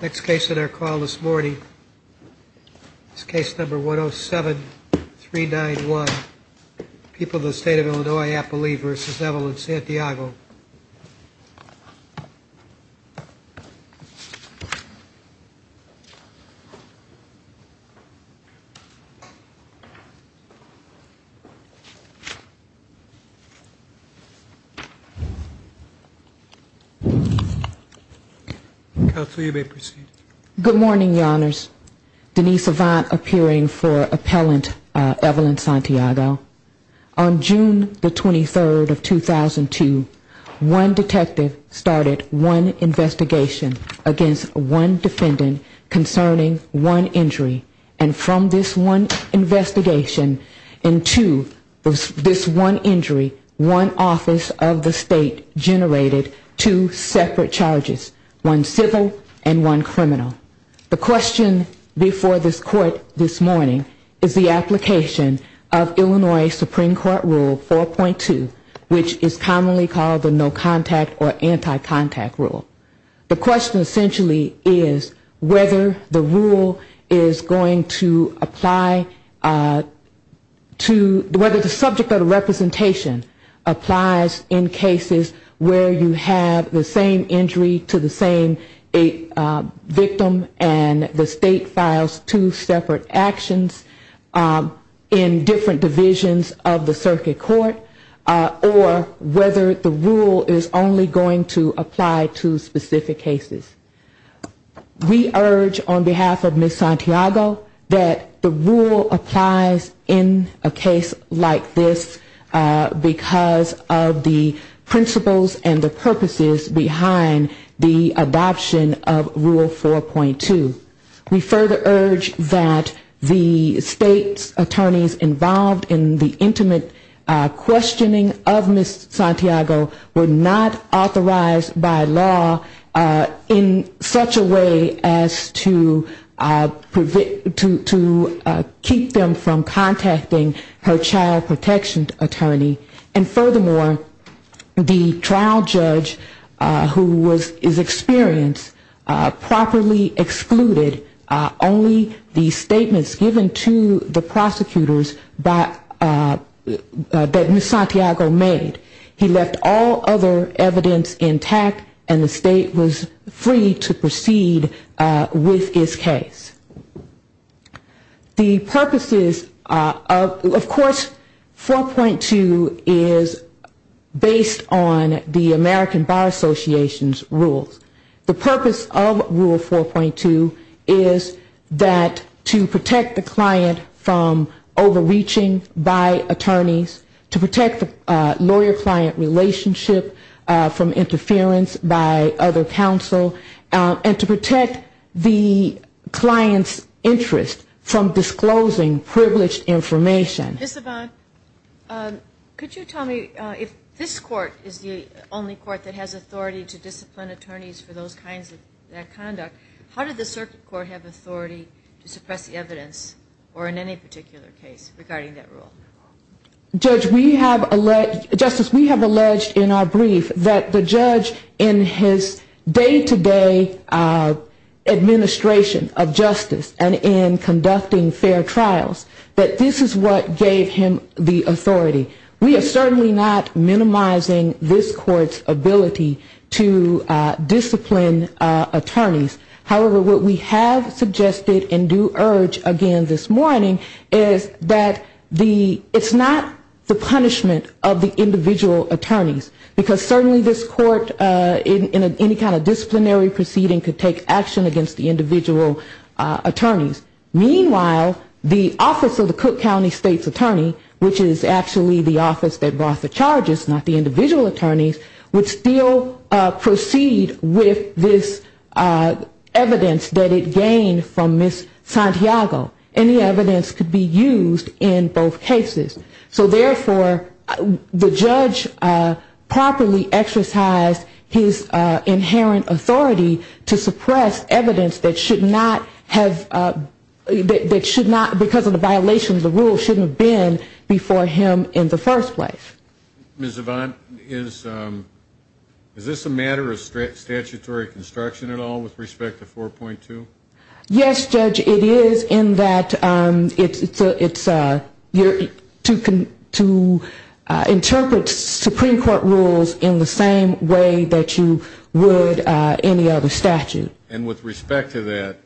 Next case on our call this morning is case number 107391, People of the State of Illinois-Apolli v. Evelyn Santiago. Good morning, Your Honors. Denise Avant appearing for appellant Evelyn Santiago. On June the One detective started one investigation against one defendant concerning one injury. And from this one investigation into this one injury, one office of the state generated two separate charges, one civil and one criminal. The question before this court this morning is the application of Illinois Supreme Court rule 4.2, which is commonly called the no contact or anti-contact rule. The question essentially is whether the rule is going to apply to whether the subject of the representation applies in cases where you have the same injury to the same victim and the state files two separate actions in different divisions of the circuit court or whether the rule is only going to apply to specific cases. We urge on behalf of Ms. Santiago that the rule applies in a case like this because of the principles and the purposes behind the adoption of rule 4.2. We further urge that the state's attorneys involved in the intimate questioning of Ms. Santiago were not authorized by law in such a way as to keep them from contacting her child protection attorney. And furthermore, the trial judge who was his experience properly excluded only the statements given to the prosecutors that Ms. Santiago made. He is based on the American Bar Association's rules. The purpose of rule 4.2 is that to protect the client from overreaching by attorneys, to protect the lawyer client relationship from interference by other counsel, and to protect the client's interest from disclosing privileged information. Ms. Saban, could you tell me if this court is the only court that has authority to discipline attorneys for those kinds of conduct, how did the circuit court have authority to suppress the evidence or in any particular case regarding that rule? Justice, we have alleged in our brief that the judge in his day-to-day administration of justice and in conducting fair trials, that this is what gave him the punishment of the individual attorneys. Because certainly this court in any kind of disciplinary proceeding could take action against the individual attorneys. Meanwhile, the office of the Cook County State's Attorney, which is actually the office that brought the charges, not the individual attorneys, would still So therefore, the judge properly exercised his inherent authority to suppress evidence that should not have, that should not, because of the violation of the rule, should not have been before him in the first place. Ms. Saban, is this a matter of statutory construction at all with respect to 4.2? Yes, Judge, it is in that it's to interpret Supreme Court rules in the same way that you would any other statute. And with respect to that,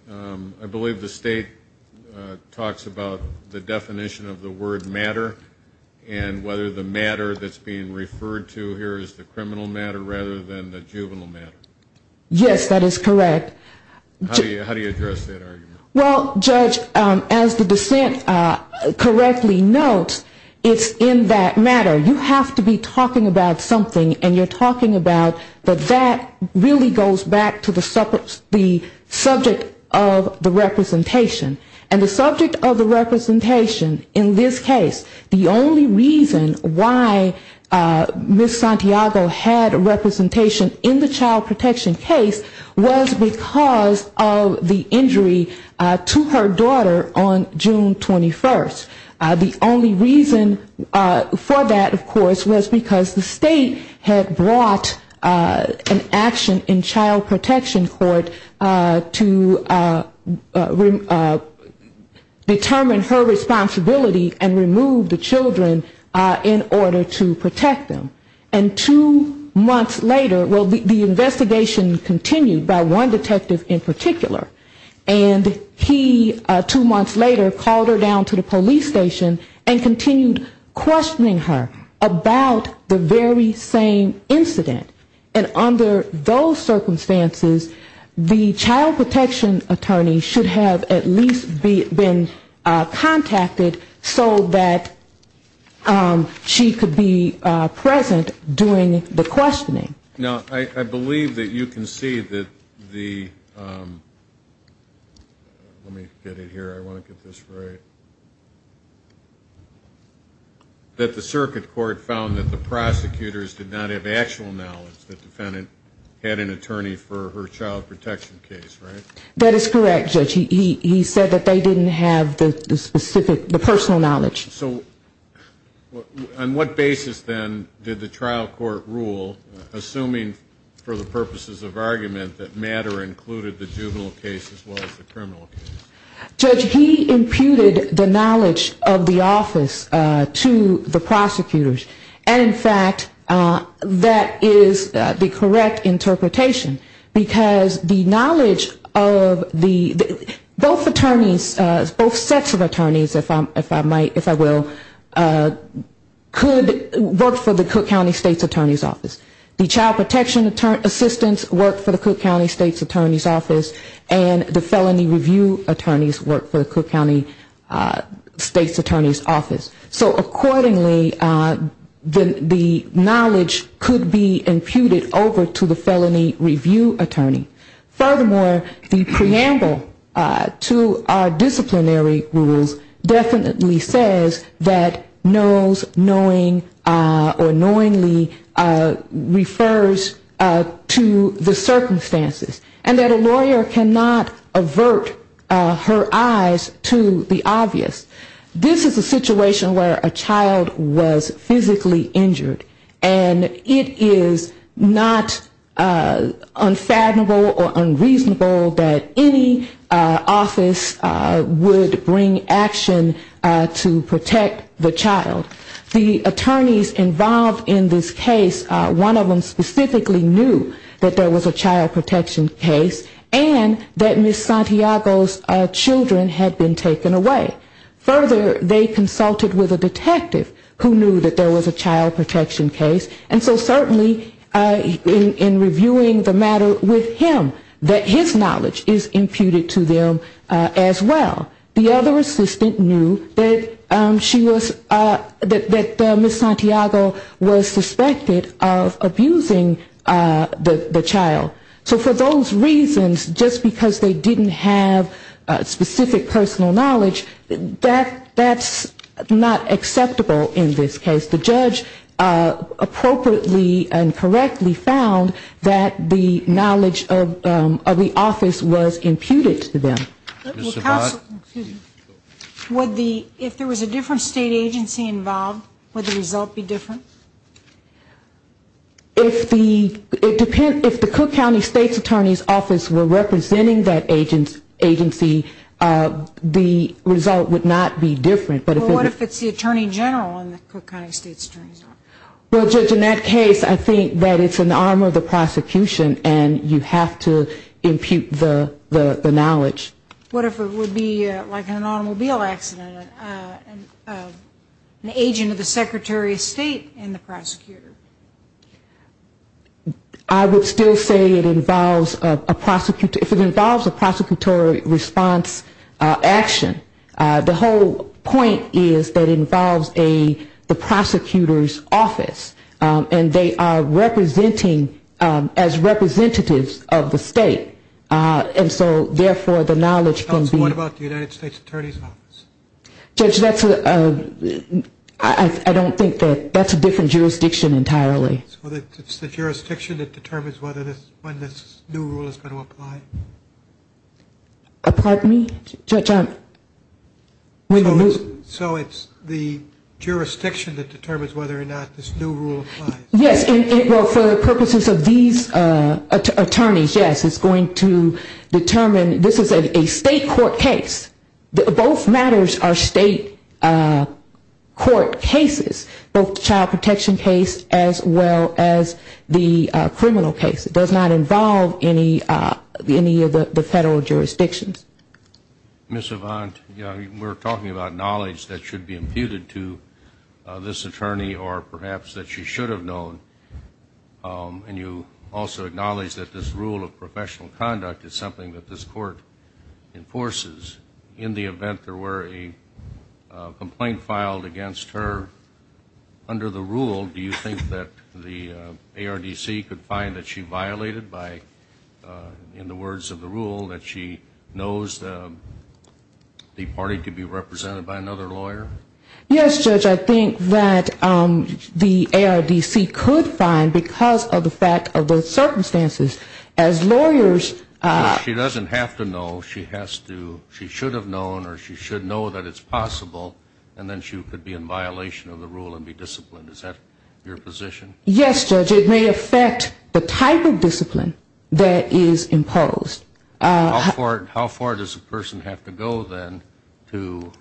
I believe the state talks about the definition of the word matter and whether the matter that's being referred to here is the criminal matter rather than the juvenile matter. Yes, that is correct. How do you address that argument? Well, Judge, as the dissent correctly notes, it's in that matter. You have to be talking about something and you're talking about that that really goes back to the subject of the representation. And the subject of the representation in this case, the only reason why Ms. Santiago had representation in the child protection case was because of the injury to her daughter on June 21st. The only reason for that, of course, was because the state had brought an action in child protection court to determine her responsibility and remove the children in order to protect them. And two months later, well, the investigation continued by one detective in particular. And he, two months later, called her down to the police station and continued questioning her about the very same incident. And under those circumstances, the child protection attorney should have at least been contacted so that she could be present during the questioning. Now, I believe that you can see that the, let me get it here, I want to get this right, that the circuit court found that the prosecutors did not have actual knowledge that the defendant had an attorney for her child protection case, right? That is correct, Judge. He said that they didn't have the specific, the personal knowledge. So on what basis, then, did the trial court rule, assuming for the purposes of argument, that Madder included the juvenile case as well as the criminal case? Judge, he imputed the knowledge of the office to the prosecutors. And, in fact, that is the correct interpretation. Because the knowledge of the, both attorneys, both sets of attorneys, if I might, if I will, could work for the Cook County State's Attorney's Office. The child protection assistance worked for the Cook County State's Attorney's Office. And the felony review attorneys worked for the Cook County State's Attorney's Office. So, accordingly, the knowledge could be imputed over to the felony review attorney. Furthermore, the preamble to the trial court, the preamble to the disciplinary rules definitely says that knows, knowing, or knowingly refers to the circumstances. And that a lawyer cannot avert her eyes to the obvious. This is a situation where a child was physically injured. And it is not unfathomable or unreasonable that any office should bring action to protect the child. The attorneys involved in this case, one of them specifically knew that there was a child protection case. And that Ms. Santiago's children had been taken away. Further, they consulted with a detective who knew that there was a child protection case. And so, certainly, in reviewing the matter with him, that his knowledge is imputed to them as evidence. As well, the other assistant knew that she was, that Ms. Santiago was suspected of abusing the child. So for those reasons, just because they didn't have specific personal knowledge, that's not acceptable in this case. The judge appropriately and correctly found that the knowledge of the child was imputed to them. If there was a different state agency involved, would the result be different? If the Cook County State's Attorney's Office were representing that agency, the result would not be different. Well, what if it's the Attorney General in the Cook County State's Attorney's Office? Well, Judge, in that case, I think that it's an arm of the prosecution and you have to impute the knowledge. What if it would be like an automobile accident? An agent of the Secretary of State and the prosecutor? I would still say it involves a prosecutor. If it involves a prosecutorial response action, the whole point is that it involves the prosecutor's office and they are representing, as representatives of the state, and so therefore the knowledge can be What about the United States Attorney's Office? Judge, I don't think that's a different jurisdiction entirely. It's the jurisdiction that determines when this new rule is going to apply? Pardon me? So it's the jurisdiction that determines whether or not this new rule applies? Yes, for the purposes of these attorneys, yes, it's going to determine. This is a state court case. Both matters are state court cases, both the child protection case as well as the criminal case. It does not involve any of the federal jurisdictions. Ms. Avant, we're talking about knowledge that should be imputed to this attorney or perhaps that she should have known, and you also acknowledge that this rule of professional conduct is something that this court enforces. In the event there were a complaint filed against her under the rule, do you think that the ARDC could find that she violated by, in the party could be represented by another lawyer? Yes, Judge, I think that the ARDC could find, because of the fact of the circumstances, as lawyers... She doesn't have to know, she has to, she should have known or she should know that it's possible, and then she could be in violation of the rule and be disciplined. Is that your position? Yes, Judge, it may affect the type of discipline that is imposed. How far does a person have to go then to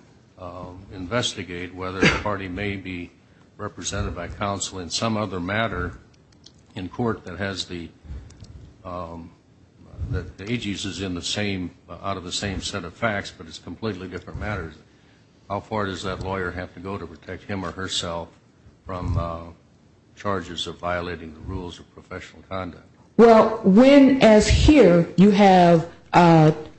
investigate whether the party may be represented by counsel in some other matter in court that has the, that the agency is in the same, out of the same set of facts, but it's completely different matters. How far does that lawyer have to go to protect him or herself from charges of violating the rules of professional conduct? Well, when, as here, you have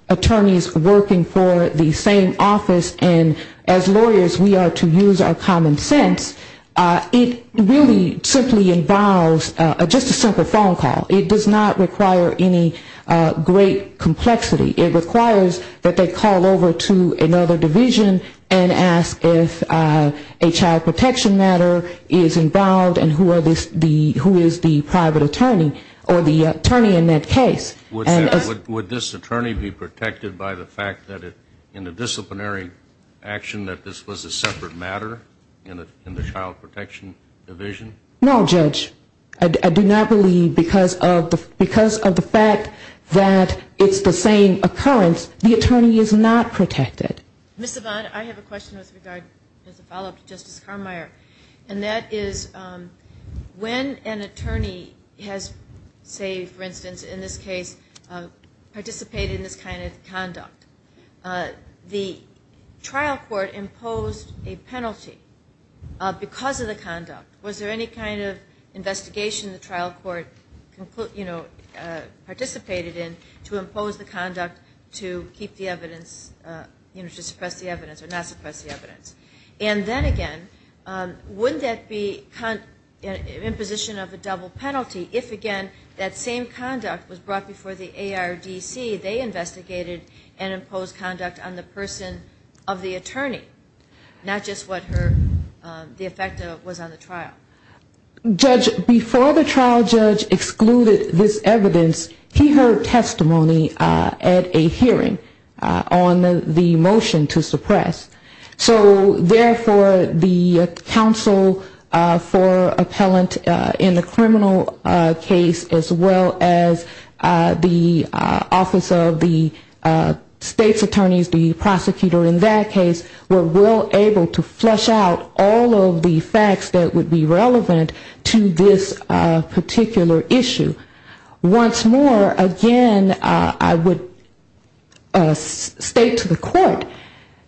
attorneys working for the same office and as lawyers we are to use our common sense, it really simply involves just a simple phone call. It does not require any great complexity. It requires that they call over to another division and ask if a child protection matter is involved and who are the, who is the private attorney or the attorney in that case. Would this attorney be protected by the fact that in the disciplinary action that this was a separate matter in the child protection division? No, Judge, I do not believe, because of the fact that it's the same case. It's the same case, and that's why the, the, the, the attorney is not protected. Ms. Yvonne, I have a question with regard, as a follow-up to Justice Carmeier, and that is when an attorney has, say, for instance, in this case, participated in this kind of conduct, the trial court imposed a penalty because of the conduct. Was there any kind of investigation the trial court, you know, participated in to impose the conduct to keep the evidence, you know, to suppress the evidence or not suppress the evidence? And then again, wouldn't that be imposition of a double penalty if, again, that same conduct was brought before the ARDC, they investigated and imposed conduct on the person of the attorney, not just what her, the effect was on the trial? Judge, before the trial judge excluded this evidence, he heard testimony at a hearing on the motion to suppress. So therefore, the counsel for appellant in the criminal case, as well as the office of the state's attorneys, the prosecutor in that case, were able to flush out all of the facts that would be relevant to this particular issue. Once more, again, I would state to the court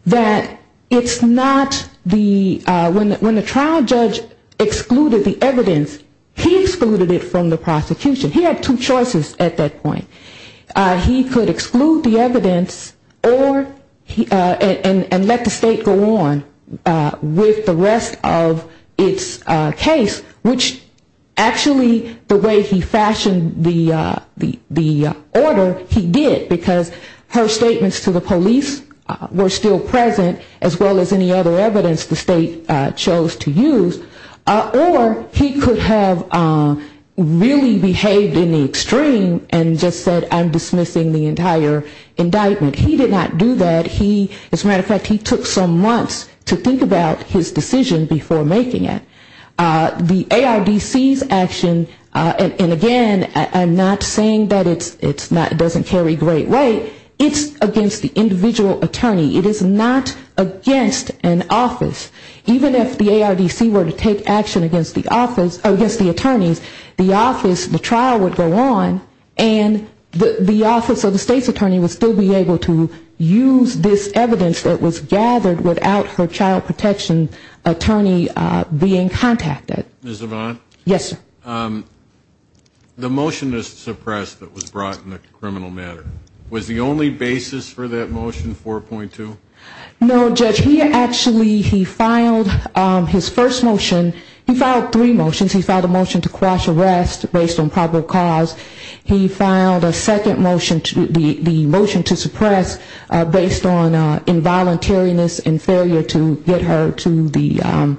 that it's not the, when the trial judge excluded the evidence, he excluded it from the prosecution. He had two choices at that point. He could exclude the evidence or, and let the state go on with the rest of its case, which actually the way he fashioned the order, he did, because her statements to the police were still present, as well as any other evidence the state chose to use, or he could have really behaved in the extreme and just said, I'm dismissing the entire indictment. He did not do that. He, as a matter of fact, he took some months to think about his decision before making it. The ARDC's action, and again, I'm not saying that it's not, it doesn't carry great weight, it's against the individual attorney. It is not against an office. Even if the ARDC were to take action against the office, against the attorneys, the office, the trial would go on, and the office of the state's attorney would still be able to use this evidence that was gathered without her child protection attorney being contacted. Ms. Zavon? Yes, sir. The motion to suppress that was brought in the criminal matter, was the only basis for that motion 4.2? No, Judge, he actually, he filed his first motion, he filed three motions. He filed a motion to crash arrest based on probable cause. He filed a second motion, the motion to suppress based on involuntariness and failure to get her to the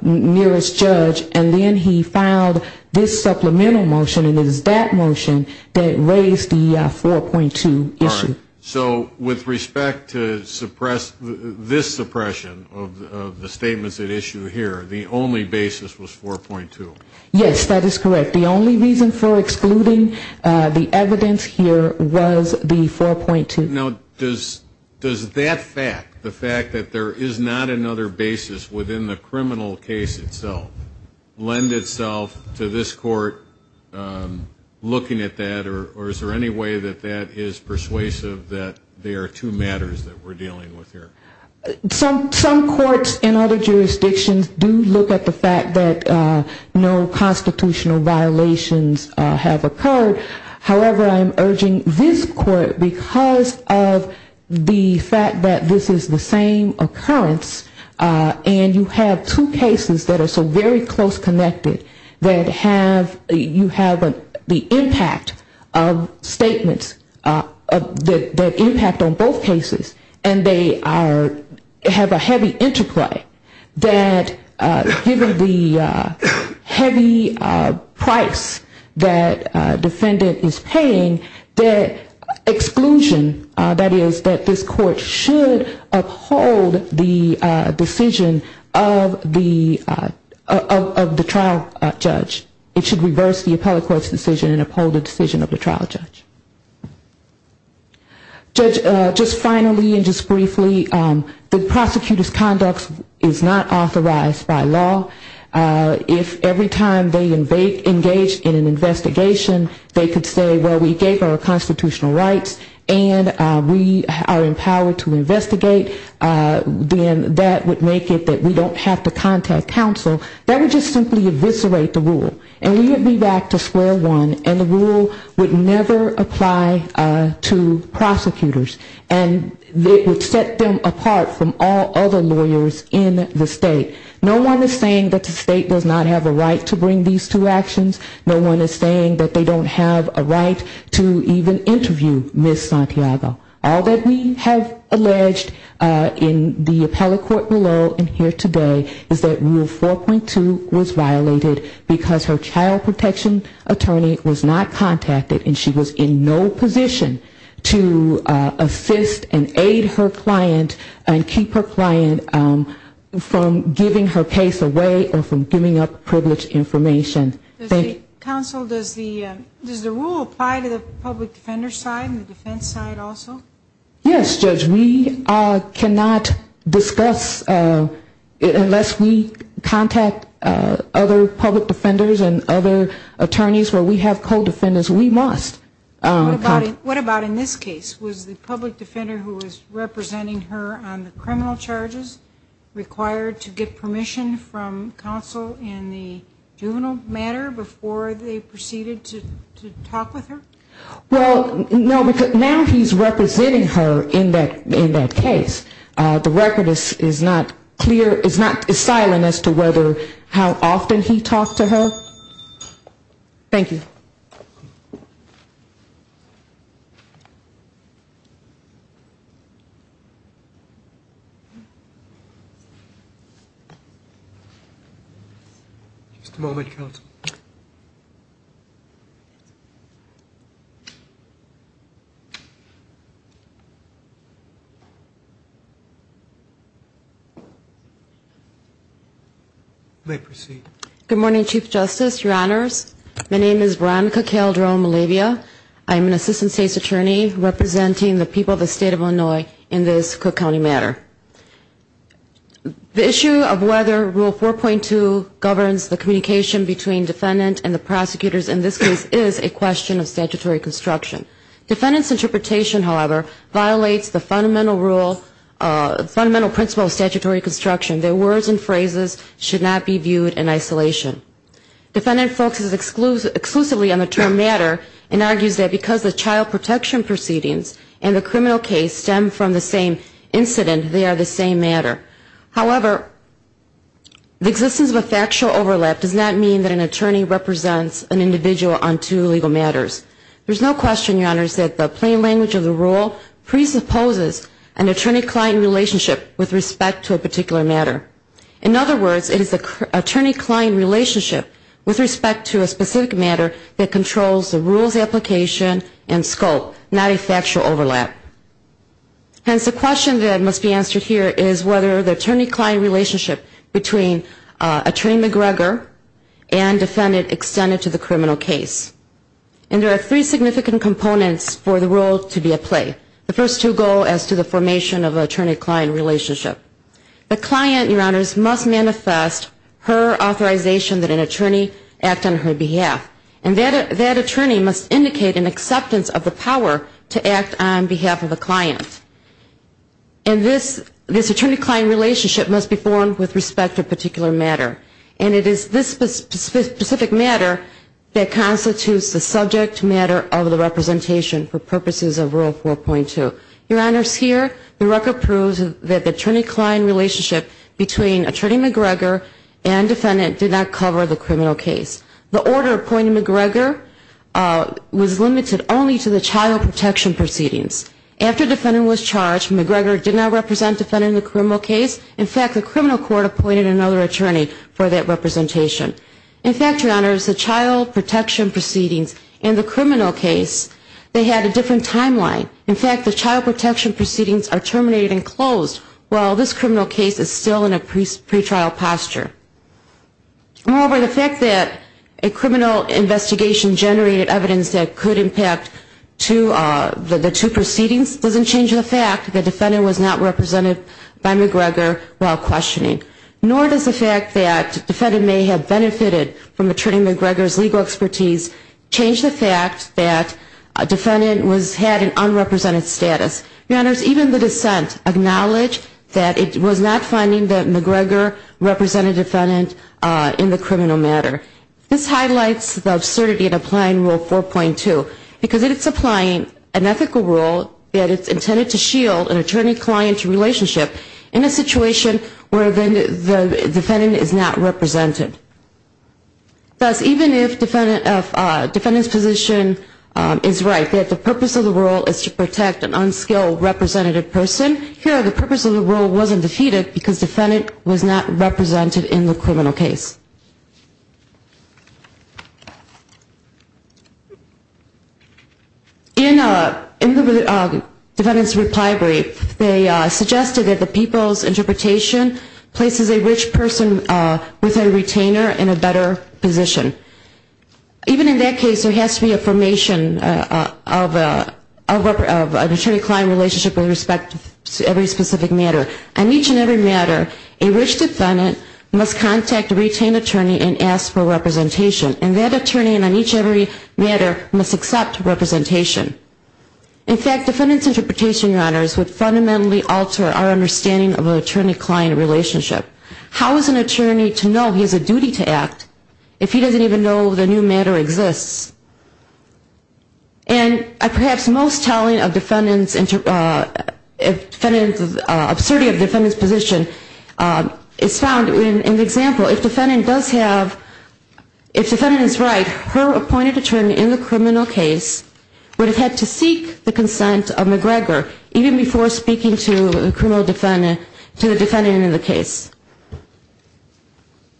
nearest judge. And then he filed this supplemental motion, and it is that motion that raised the 4.2 issue. All right. So with respect to this suppression of the statements at issue here, the only basis was 4.2? Yes, that is correct. The only reason for excluding the evidence here was the 4.2. Now, does that fact, the fact that there is not another basis within the criminal case itself, lend itself to this court looking at that, or is there any way that that is persuasive that they are two matters that we're dealing with here? Some courts in other jurisdictions do look at the fact that no constitutional violations have occurred. However, I'm urging this court, because of the fact that this is the same occurrence, and you have two cases that are so very close connected, that have, you have the impact of statements, the impact on both cases, and they are, have a heavy interplay, that given the heavy price that defendants have to pay, and the fact that there are two cases that are so very close connected, and the defendant is paying, that exclusion, that is, that this court should uphold the decision of the trial judge. It should reverse the appellate court's decision and uphold the decision of the trial judge. Judge, just finally and just briefly, the prosecutor's conduct is not authorized by law. If every time they engage in an investigation, they could say, well, we gave our constitutional rights, and we are empowered to investigate, then that would make it that we don't have to contact counsel. That would just simply eviscerate the rule, and we would be back to square one, and the rule would never apply to prosecutors. And it would set them apart from all other lawyers in the state. No one is saying that the state does not have a right to bring these two actions. No one is saying that they don't have a right to even interview Ms. Santiago. All that we have alleged in the appellate court below and here today is that rule 4.2 was violated, because her child protection attorney was not contacted, and she was in no position to assist and aid her client and keep her client from getting involved in giving her case away or from giving up privileged information. Thank you. Counsel, does the rule apply to the public defender side and the defense side also? Yes, Judge. We cannot discuss unless we contact other public defenders and other attorneys where we have co-defendants. We must. What about in this case? Was the public defender who was representing her on the criminal charges required to get permission from counsel in the juvenile matter before they proceeded to talk with her? Well, no, because now he's representing her in that case. The record is not clear, it's not as silent as to whether how often he talked to her. Just a moment, counsel. You may proceed. Good morning, Chief Justice, your honors. My name is Veronica Calderon-Malavia. I'm an assistant state's attorney representing the people of the state of Illinois in this Cook County matter. The issue of whether rule 4.2 governs the communication between defendant and the prosecutors in this case is a question of statutory construction. Defendant's interpretation, however, violates the fundamental rule, fundamental principle of statutory construction. Their words and phrases should not be viewed in isolation. Defendant focuses exclusively on the term matter and argues that because the child protection proceedings and the criminal case stem from the same incident, they are the same matter. However, the existence of a factual overlap does not mean that an attorney represents an individual on two legal matters. There's no question, your honors, that the plain language of the rule presupposes an attorney-client relationship with respect to a particular matter. In other words, it is the attorney-client relationship with respect to a specific matter that controls the rule's application and scope, not a factual overlap. Hence, the question that must be answered here is whether the attorney-client relationship between attorney McGregor and defendant extended to the criminal case. And there are three significant components for the role to be at play. The first two go as to the formation of an attorney-client relationship. The client, your honors, must manifest her authorization that an attorney act on her behalf. And that attorney must indicate an acceptance of the power to act on behalf of a client. And this attorney-client relationship must be formed with respect to a particular matter. And it is this specific matter that constitutes the subject matter of the representation for purposes of Rule 4.2. Your honors, here, the record proves that the attorney-client relationship between attorney McGregor and defendant did not cover the criminal case. The order appointing McGregor was limited only to the child protection proceedings. After defendant was charged, McGregor did not represent defendant in the criminal case. In fact, the criminal court appointed another attorney for that representation. In fact, your honors, the child protection proceedings and the criminal case, they had a different timeline. In fact, the child protection proceedings are terminated and closed, while this criminal case is still in a pretrial posture. Moreover, the fact that a criminal investigation generated evidence that could impact the two proceedings doesn't change the fact that defendant was not represented by McGregor while questioning. Nor does the fact that defendant may have benefited from attorney McGregor's legal expertise change the fact that defendant had an unrepresented status. Your honors, even the dissent acknowledged that it was not finding that McGregor represented defendant in the criminal matter. This highlights the absurdity of applying Rule 4.2, because it is applying an ethical rule that is intended to shield an attorney-client relationship in a situation where the defendant is not represented. Thus, even if defendant's position is right, that the purpose of the rule is to protect an unskilled attorney from a low representative person, here the purpose of the rule wasn't defeated because defendant was not represented in the criminal case. In the defendant's reply brief, they suggested that the people's interpretation places a rich person with a retainer in a better position. Even in that case, there has to be a formation of an attorney-client relationship with respect to every specific matter. On each and every matter, a rich defendant must contact a retained attorney and ask for representation. And that attorney, on each and every matter, must accept representation. In fact, defendant's interpretation, your honors, would fundamentally alter our understanding of an attorney-client relationship. How is an attorney to know he has a duty to act if he doesn't even know the new matter exists? And perhaps most telling of defendant's absurdity of defendant's position is found in the example. If defendant is right, her appointed attorney in the criminal case would have had to seek the consent of McGregor even before speaking to the defendant in the case.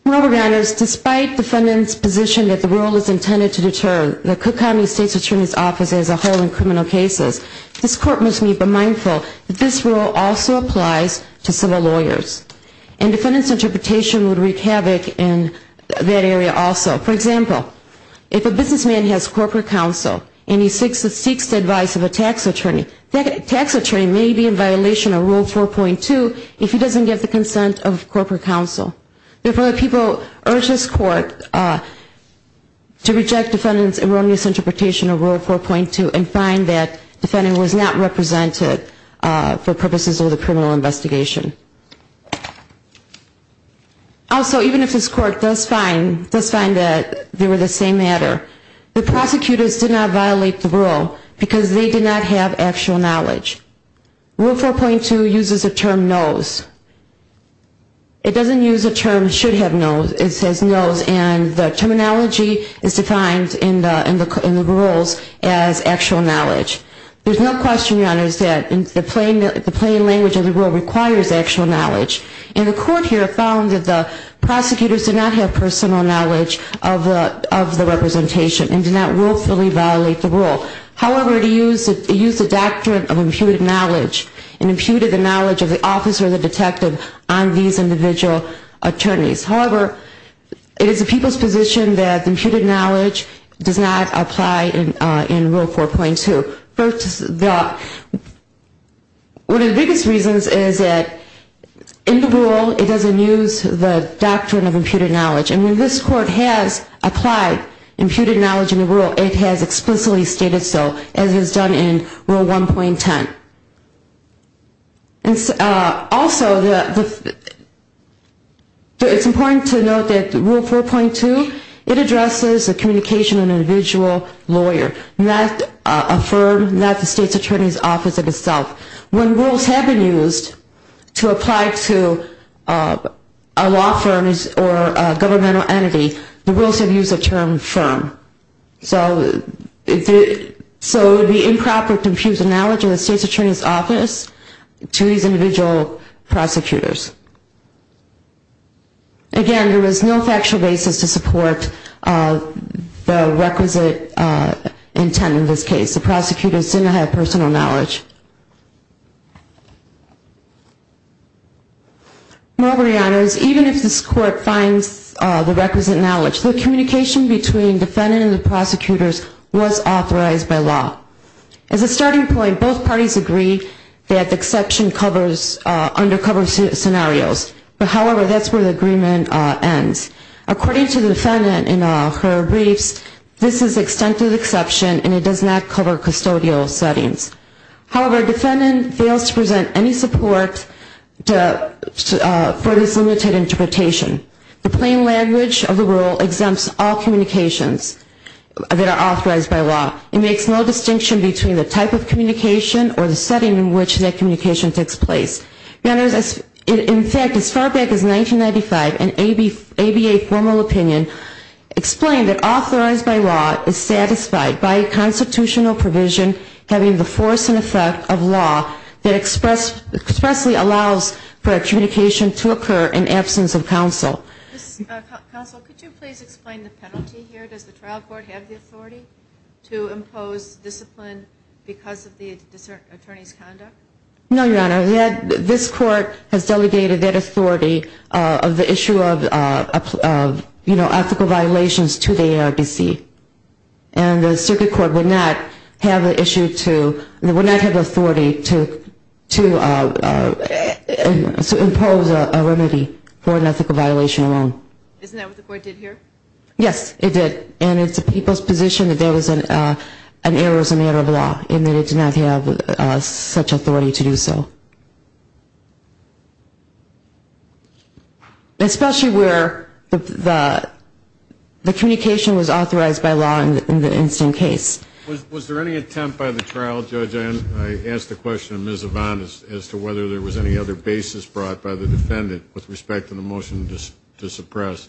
Your honors, despite defendant's position that the rule is intended to deter the Cook County State's Attorney's Office as a whole in criminal cases, this court must be mindful that this rule also applies to civil lawyers. And defendant's interpretation would wreak havoc in that area also. For example, if a businessman has corporate counsel and he seeks the advice of a tax attorney, that tax attorney may be in violation of Rule 4.2 if he doesn't get the consent of corporate counsel. If other people urge this court to reject defendant's erroneous interpretation of Rule 4.2 and find that defendant was not represented for purposes of the criminal investigation. Also, even if this court does find that they were the same matter, the prosecutors did not violate the rule because they did not have actual knowledge. Rule 4.2 uses the term knows. It doesn't use the term should have knows. It says knows and the terminology is defined in the rules as actual knowledge. There's no question, your honors, that the plain language of the rule requires actual knowledge. And the court here found that the prosecutors did not have personal knowledge of the representation and did not willfully violate the rule. However, it used the doctrine of imputed knowledge and imputed the knowledge of the officer or the detective on these individual attorneys. However, it is the people's position that the imputed knowledge does not apply in Rule 4.2. First, one of the biggest reasons is that in the rule it doesn't use the doctrine of imputed knowledge. I mean, this court has applied imputed knowledge in the rule. It has explicitly stated so, as it has done in Rule 1.10. Also, it's important to note that Rule 4.2, it addresses the communication of an individual lawyer, not a firm, not the state's attorney's office in itself. When rules have been used to apply to a law firm or a government agency, it's not the state's attorney's office. It's a governmental entity. The rules have used the term firm. So it would be improper to impute the knowledge of the state's attorney's office to these individual prosecutors. Again, there is no factual basis to support the requisite intent in this case. The prosecutors did not have personal knowledge. Moreover, Your Honors, even if this court finds the requisite knowledge, the communication between the defendant and the prosecutors was authorized by law. As a starting point, both parties agree that the exception covers undercover scenarios. However, that's where the agreement ends. According to the defendant in her briefs, this is an extended exception and it does not cover custodial settings. However, the defendant fails to present any support for this limited interpretation. The plain language of the rule exempts all communications that are authorized by law. It makes no distinction between the type of communication or the setting in which that communication takes place. Your Honors, in fact, as far back as 1995, an ABA formal opinion explained that authorized by law is satisfied by a constitutional provision having the form of a force and effect of law that expressly allows for a communication to occur in absence of counsel. Counsel, could you please explain the penalty here? Does the trial court have the authority to impose discipline because of the attorney's conduct? No, Your Honor. This court has delegated that authority of the issue of ethical violations to the ARDC. And the circuit court would not have the authority to impose a remedy for an ethical violation alone. Isn't that what the court did here? Yes, it did. And it's the people's position that there was an error as a matter of law and that it did not have such authority to do so. Especially where the communication was authorized by law in the incident case. Was there any attempt by the trial judge, I asked the question of Ms. Yvonne, as to whether there was any other basis brought by the defendant with respect to the motion to suppress.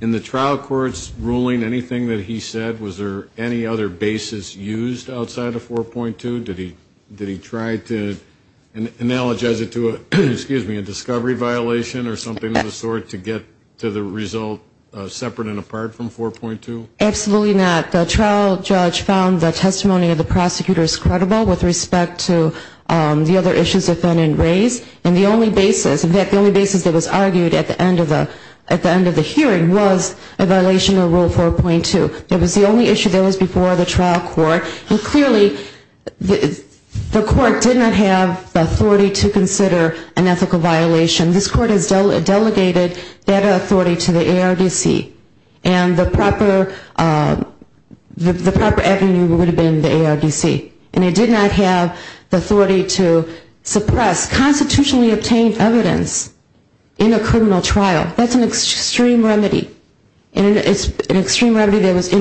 In the trial court's ruling, anything that he said, was there any other basis used outside of 4.2? Did he try to analogize it to a discovery violation or something of the sort to get to the result separate and apart from 4.2? Absolutely not. The trial judge found the testimony of the prosecutors credible with respect to the other issues the defendant raised. And the only basis that was argued at the end of the hearing was a violation of Rule 4.2. It was the only issue that was before the trial court. And clearly the court did not have the authority to consider an ethical violation. This court has delegated that authority to the ARDC. And the proper avenue would have been the ARDC. And it did not have the authority to suppress constitutionally obtained evidence in a criminal trial. That's an extreme remedy. And it's an extreme remedy that was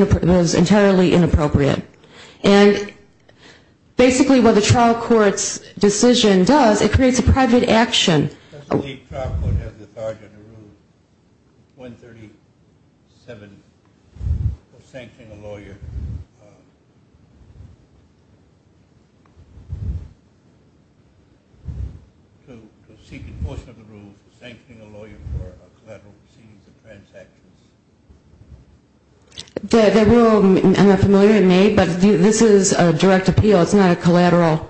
entirely inappropriate. And basically what the trial court's decision does, it creates a private action. Does the trial court have the authority under Rule 137 for sanctioning a lawyer to seek a portion of the rule for sanctioning a lawyer for a crime? The rule, I'm not familiar with it, but this is a direct appeal. It's not a collateral.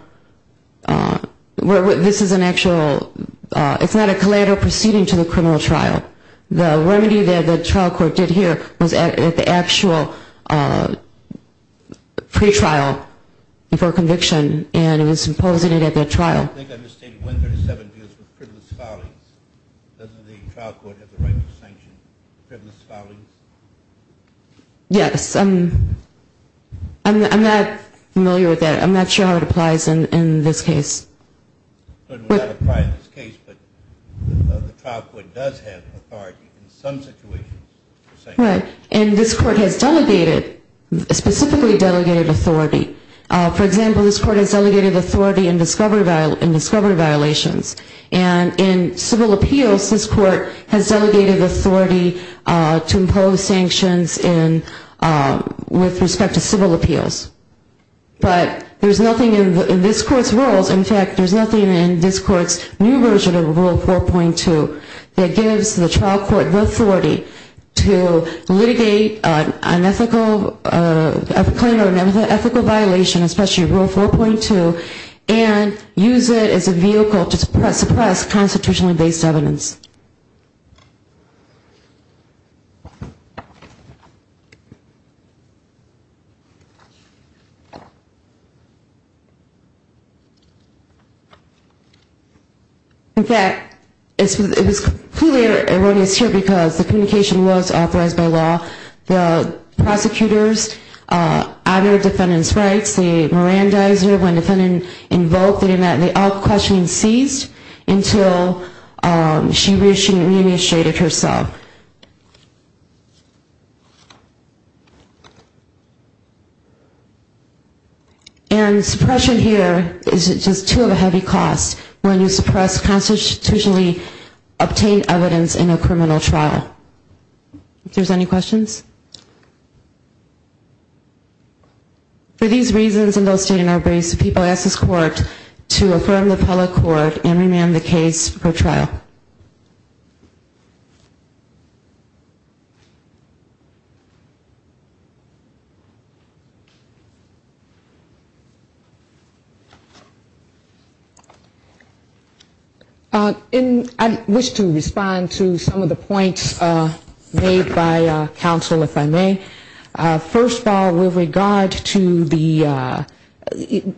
This is an actual, it's not a collateral proceeding to the criminal trial. The remedy that the trial court did here was at the actual pretrial for conviction. And it was imposing it at the trial. I think I misstated 137 deals with privileged colleagues. Doesn't the trial court have the right to sanction privileged colleagues? Yes, I'm not familiar with that. I'm not sure how it applies in this case. It would not apply in this case, but the trial court does have authority in some situations. And this court has delegated, specifically delegated authority. For example, this court has delegated authority in discovery violations. And in civil appeals, this court has delegated authority to impose sanctions with respect to civil appeals. But there's nothing in this court's rules, in fact, there's nothing in this court's new version of Rule 4.2 that gives the trial court the authority to litigate an ethical claim or an ethical violation, especially Rule 4.2, and use it as a vehicle to suppress constitutionally based evidence. In fact, it was completely erroneous here because the communication was authorized by law. The prosecutors uttered defendant's rights. The merandizer, when defendant invoked the demand, they all questioned and seized until she re-initiated herself. And suppression here is just too of a heavy cost when you suppress constitutionally obtained evidence in a criminal trial. If there's any questions? For these reasons, people ask this court to affirm the appellate court and remand the case for trial. And I wish to respond to some of the points made by counsel, if I may. First of all, with regard to the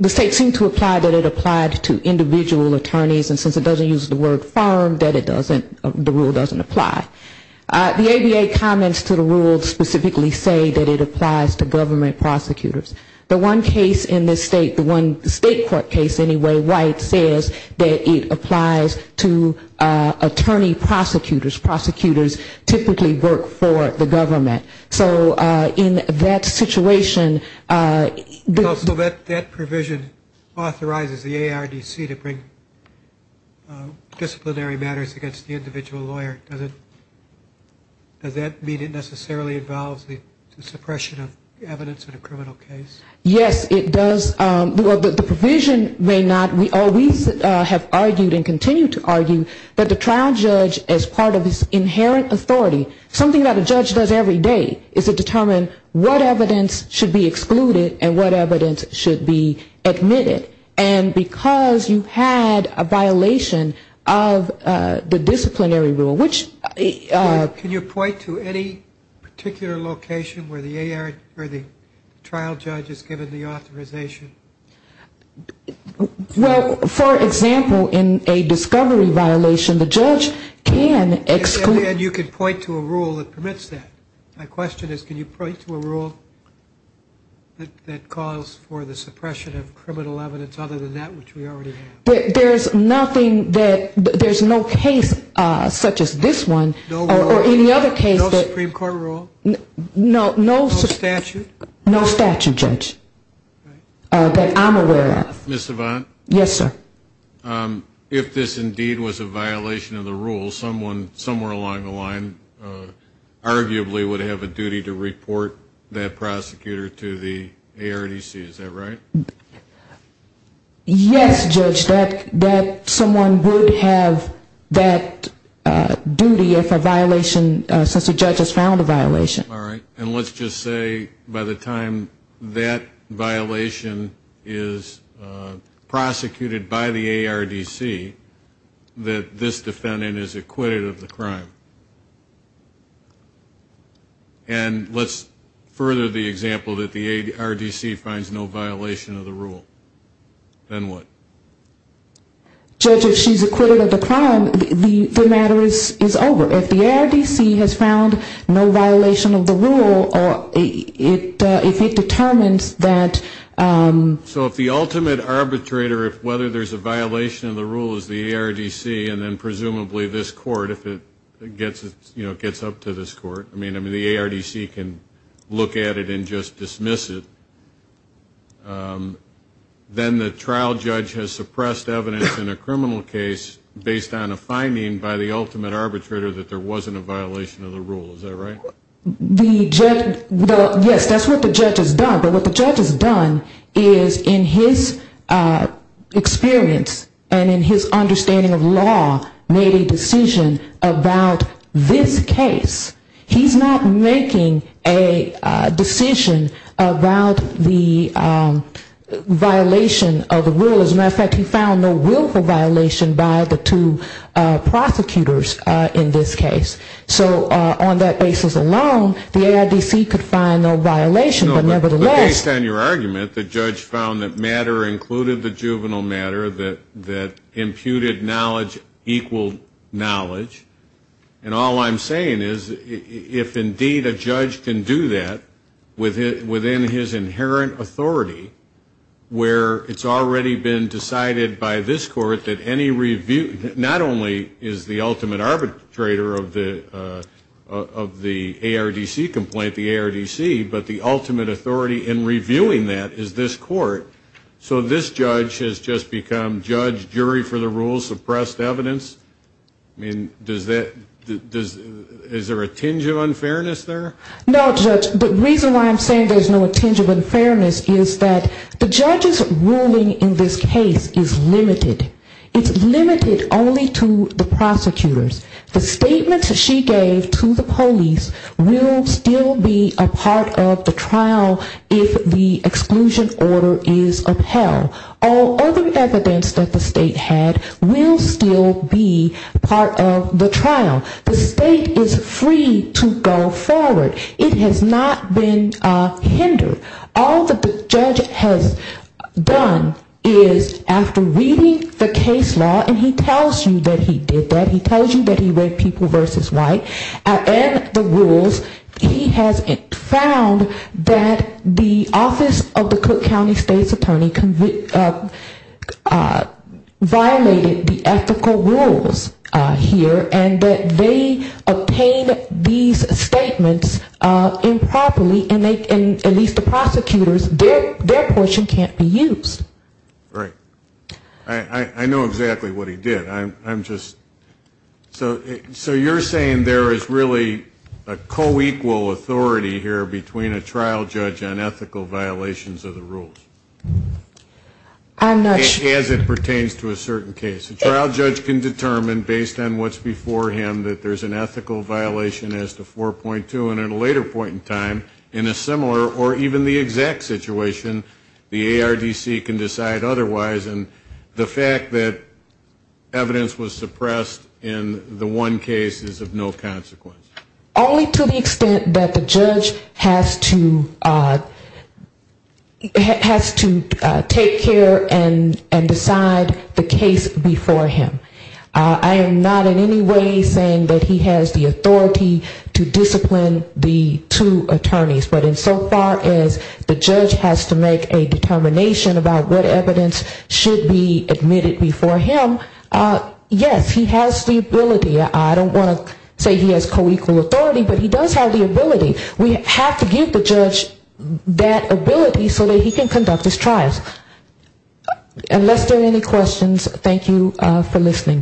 state seemed to apply that it applied to individual attorneys and since it doesn't use the word firm, that it doesn't, the rule doesn't apply. The ABA comments to the rule specifically say that it applies to government prosecutors. The one case in this state, the one state court case anyway, White, says that it applies to attorney prosecutors. Prosecutors typically work for the government. So in that situation... Does that mean it necessarily involves the suppression of evidence in a criminal case? Yes, it does. The provision may not, we always have argued and continue to argue that the trial judge as part of this inherent authority, something that a judge does every day is to determine what evidence should be excluded and what evidence should be admitted. And because you had a violation of the disciplinary rule, which... Can you point to any particular location where the trial judge is given the authorization? Well, for example, in a discovery violation, the judge can exclude... And you can point to a rule that permits that. My question is, can you point to a rule that calls for the suppression of criminal evidence other than that which we already have? There's nothing that, there's no case such as this one or any other case that... No Supreme Court rule? No statute, Judge, that I'm aware of. Ms. Savant? Yes, sir. If this indeed was a violation of the rule, someone somewhere along the line arguably would have a duty to report that prosecutor to the ARDC, is that right? Yes, Judge, that someone would have that duty if a violation, since a judge has found a violation. All right. And let's just say by the time that violation is prosecuted by the ARDC, that this defendant is acquitted of the crime. And let's further the example that the ARDC finds no violation of the rule. Then what? Judge, if she's acquitted of the crime, the matter is over. If the ARDC has found no violation of the rule, if it determines that... So if the ultimate arbitrator, whether there's a violation of the rule is the ARDC, and then presumably this court, if it gets up to this court. I mean, the ARDC can look at it and just dismiss it. Then the trial judge has suppressed evidence in a criminal case based on a finding by the ultimate arbitrator that there wasn't a violation of the rule. Is that right? Yes, that's what the judge has done. But what the judge has done is in his experience and in his understanding of law, made a decision about this case. He's not making a decision about the violation of the rule. As a matter of fact, he found no willful violation by the two prosecutors in this case. So on that basis alone, the ARDC could find no violation, but nevertheless... Based on your argument, the judge found that matter included the juvenile matter, that imputed knowledge equaled knowledge. And all I'm saying is if indeed a judge can do that within his inherent authority, where it's already been decided by this court that any review... Not only is the ultimate arbitrator of the ARDC complaint the ARDC, but the ultimate authority in reviewing that is this court. So this judge has just become judge, jury for the rule, suppressed evidence. I mean, is there a tinge of unfairness there? No, Judge. The reason why I'm saying there's no tinge of unfairness is that the judge's ruling in this case is limited. It's limited only to the prosecutors. The statements that she gave to the police will still be a part of the trial if the exclusion order is upheld. All other evidence that the state had will still be part of the trial. The state is free to go forward. It has not been hindered. All that the judge has done is after reading the case law, and he tells you that he did that. He tells you that he read People v. White and the rules. He has found that the office of the Cook County state's attorney violated the ethical rules here, and that they obtained these statements improperly, and at least the prosecutors, their portion can't be used. Right. I know exactly what he did. So you're saying there is really a co-equal authority here between a trial judge and ethical violations of the rules? As it pertains to a certain case. A trial judge can determine based on what's before him that there's an ethical violation as to 4.2, and at a later point in time, in a similar or even the exact situation, the ARDC can decide otherwise. And the fact that evidence was suppressed in the one case is of no consequence. Only to the extent that the judge has to take care and decide the case before him. I am not in any way saying that he has the authority to discipline the two attorneys. But insofar as the judge has to make a determination about what evidence should be admitted before him, yes, he has the ability. I don't want to say he has co-equal authority, but he does have the ability. We have to give the judge that ability so that he can conduct his trials. Unless there are any questions, thank you for listening, Justices.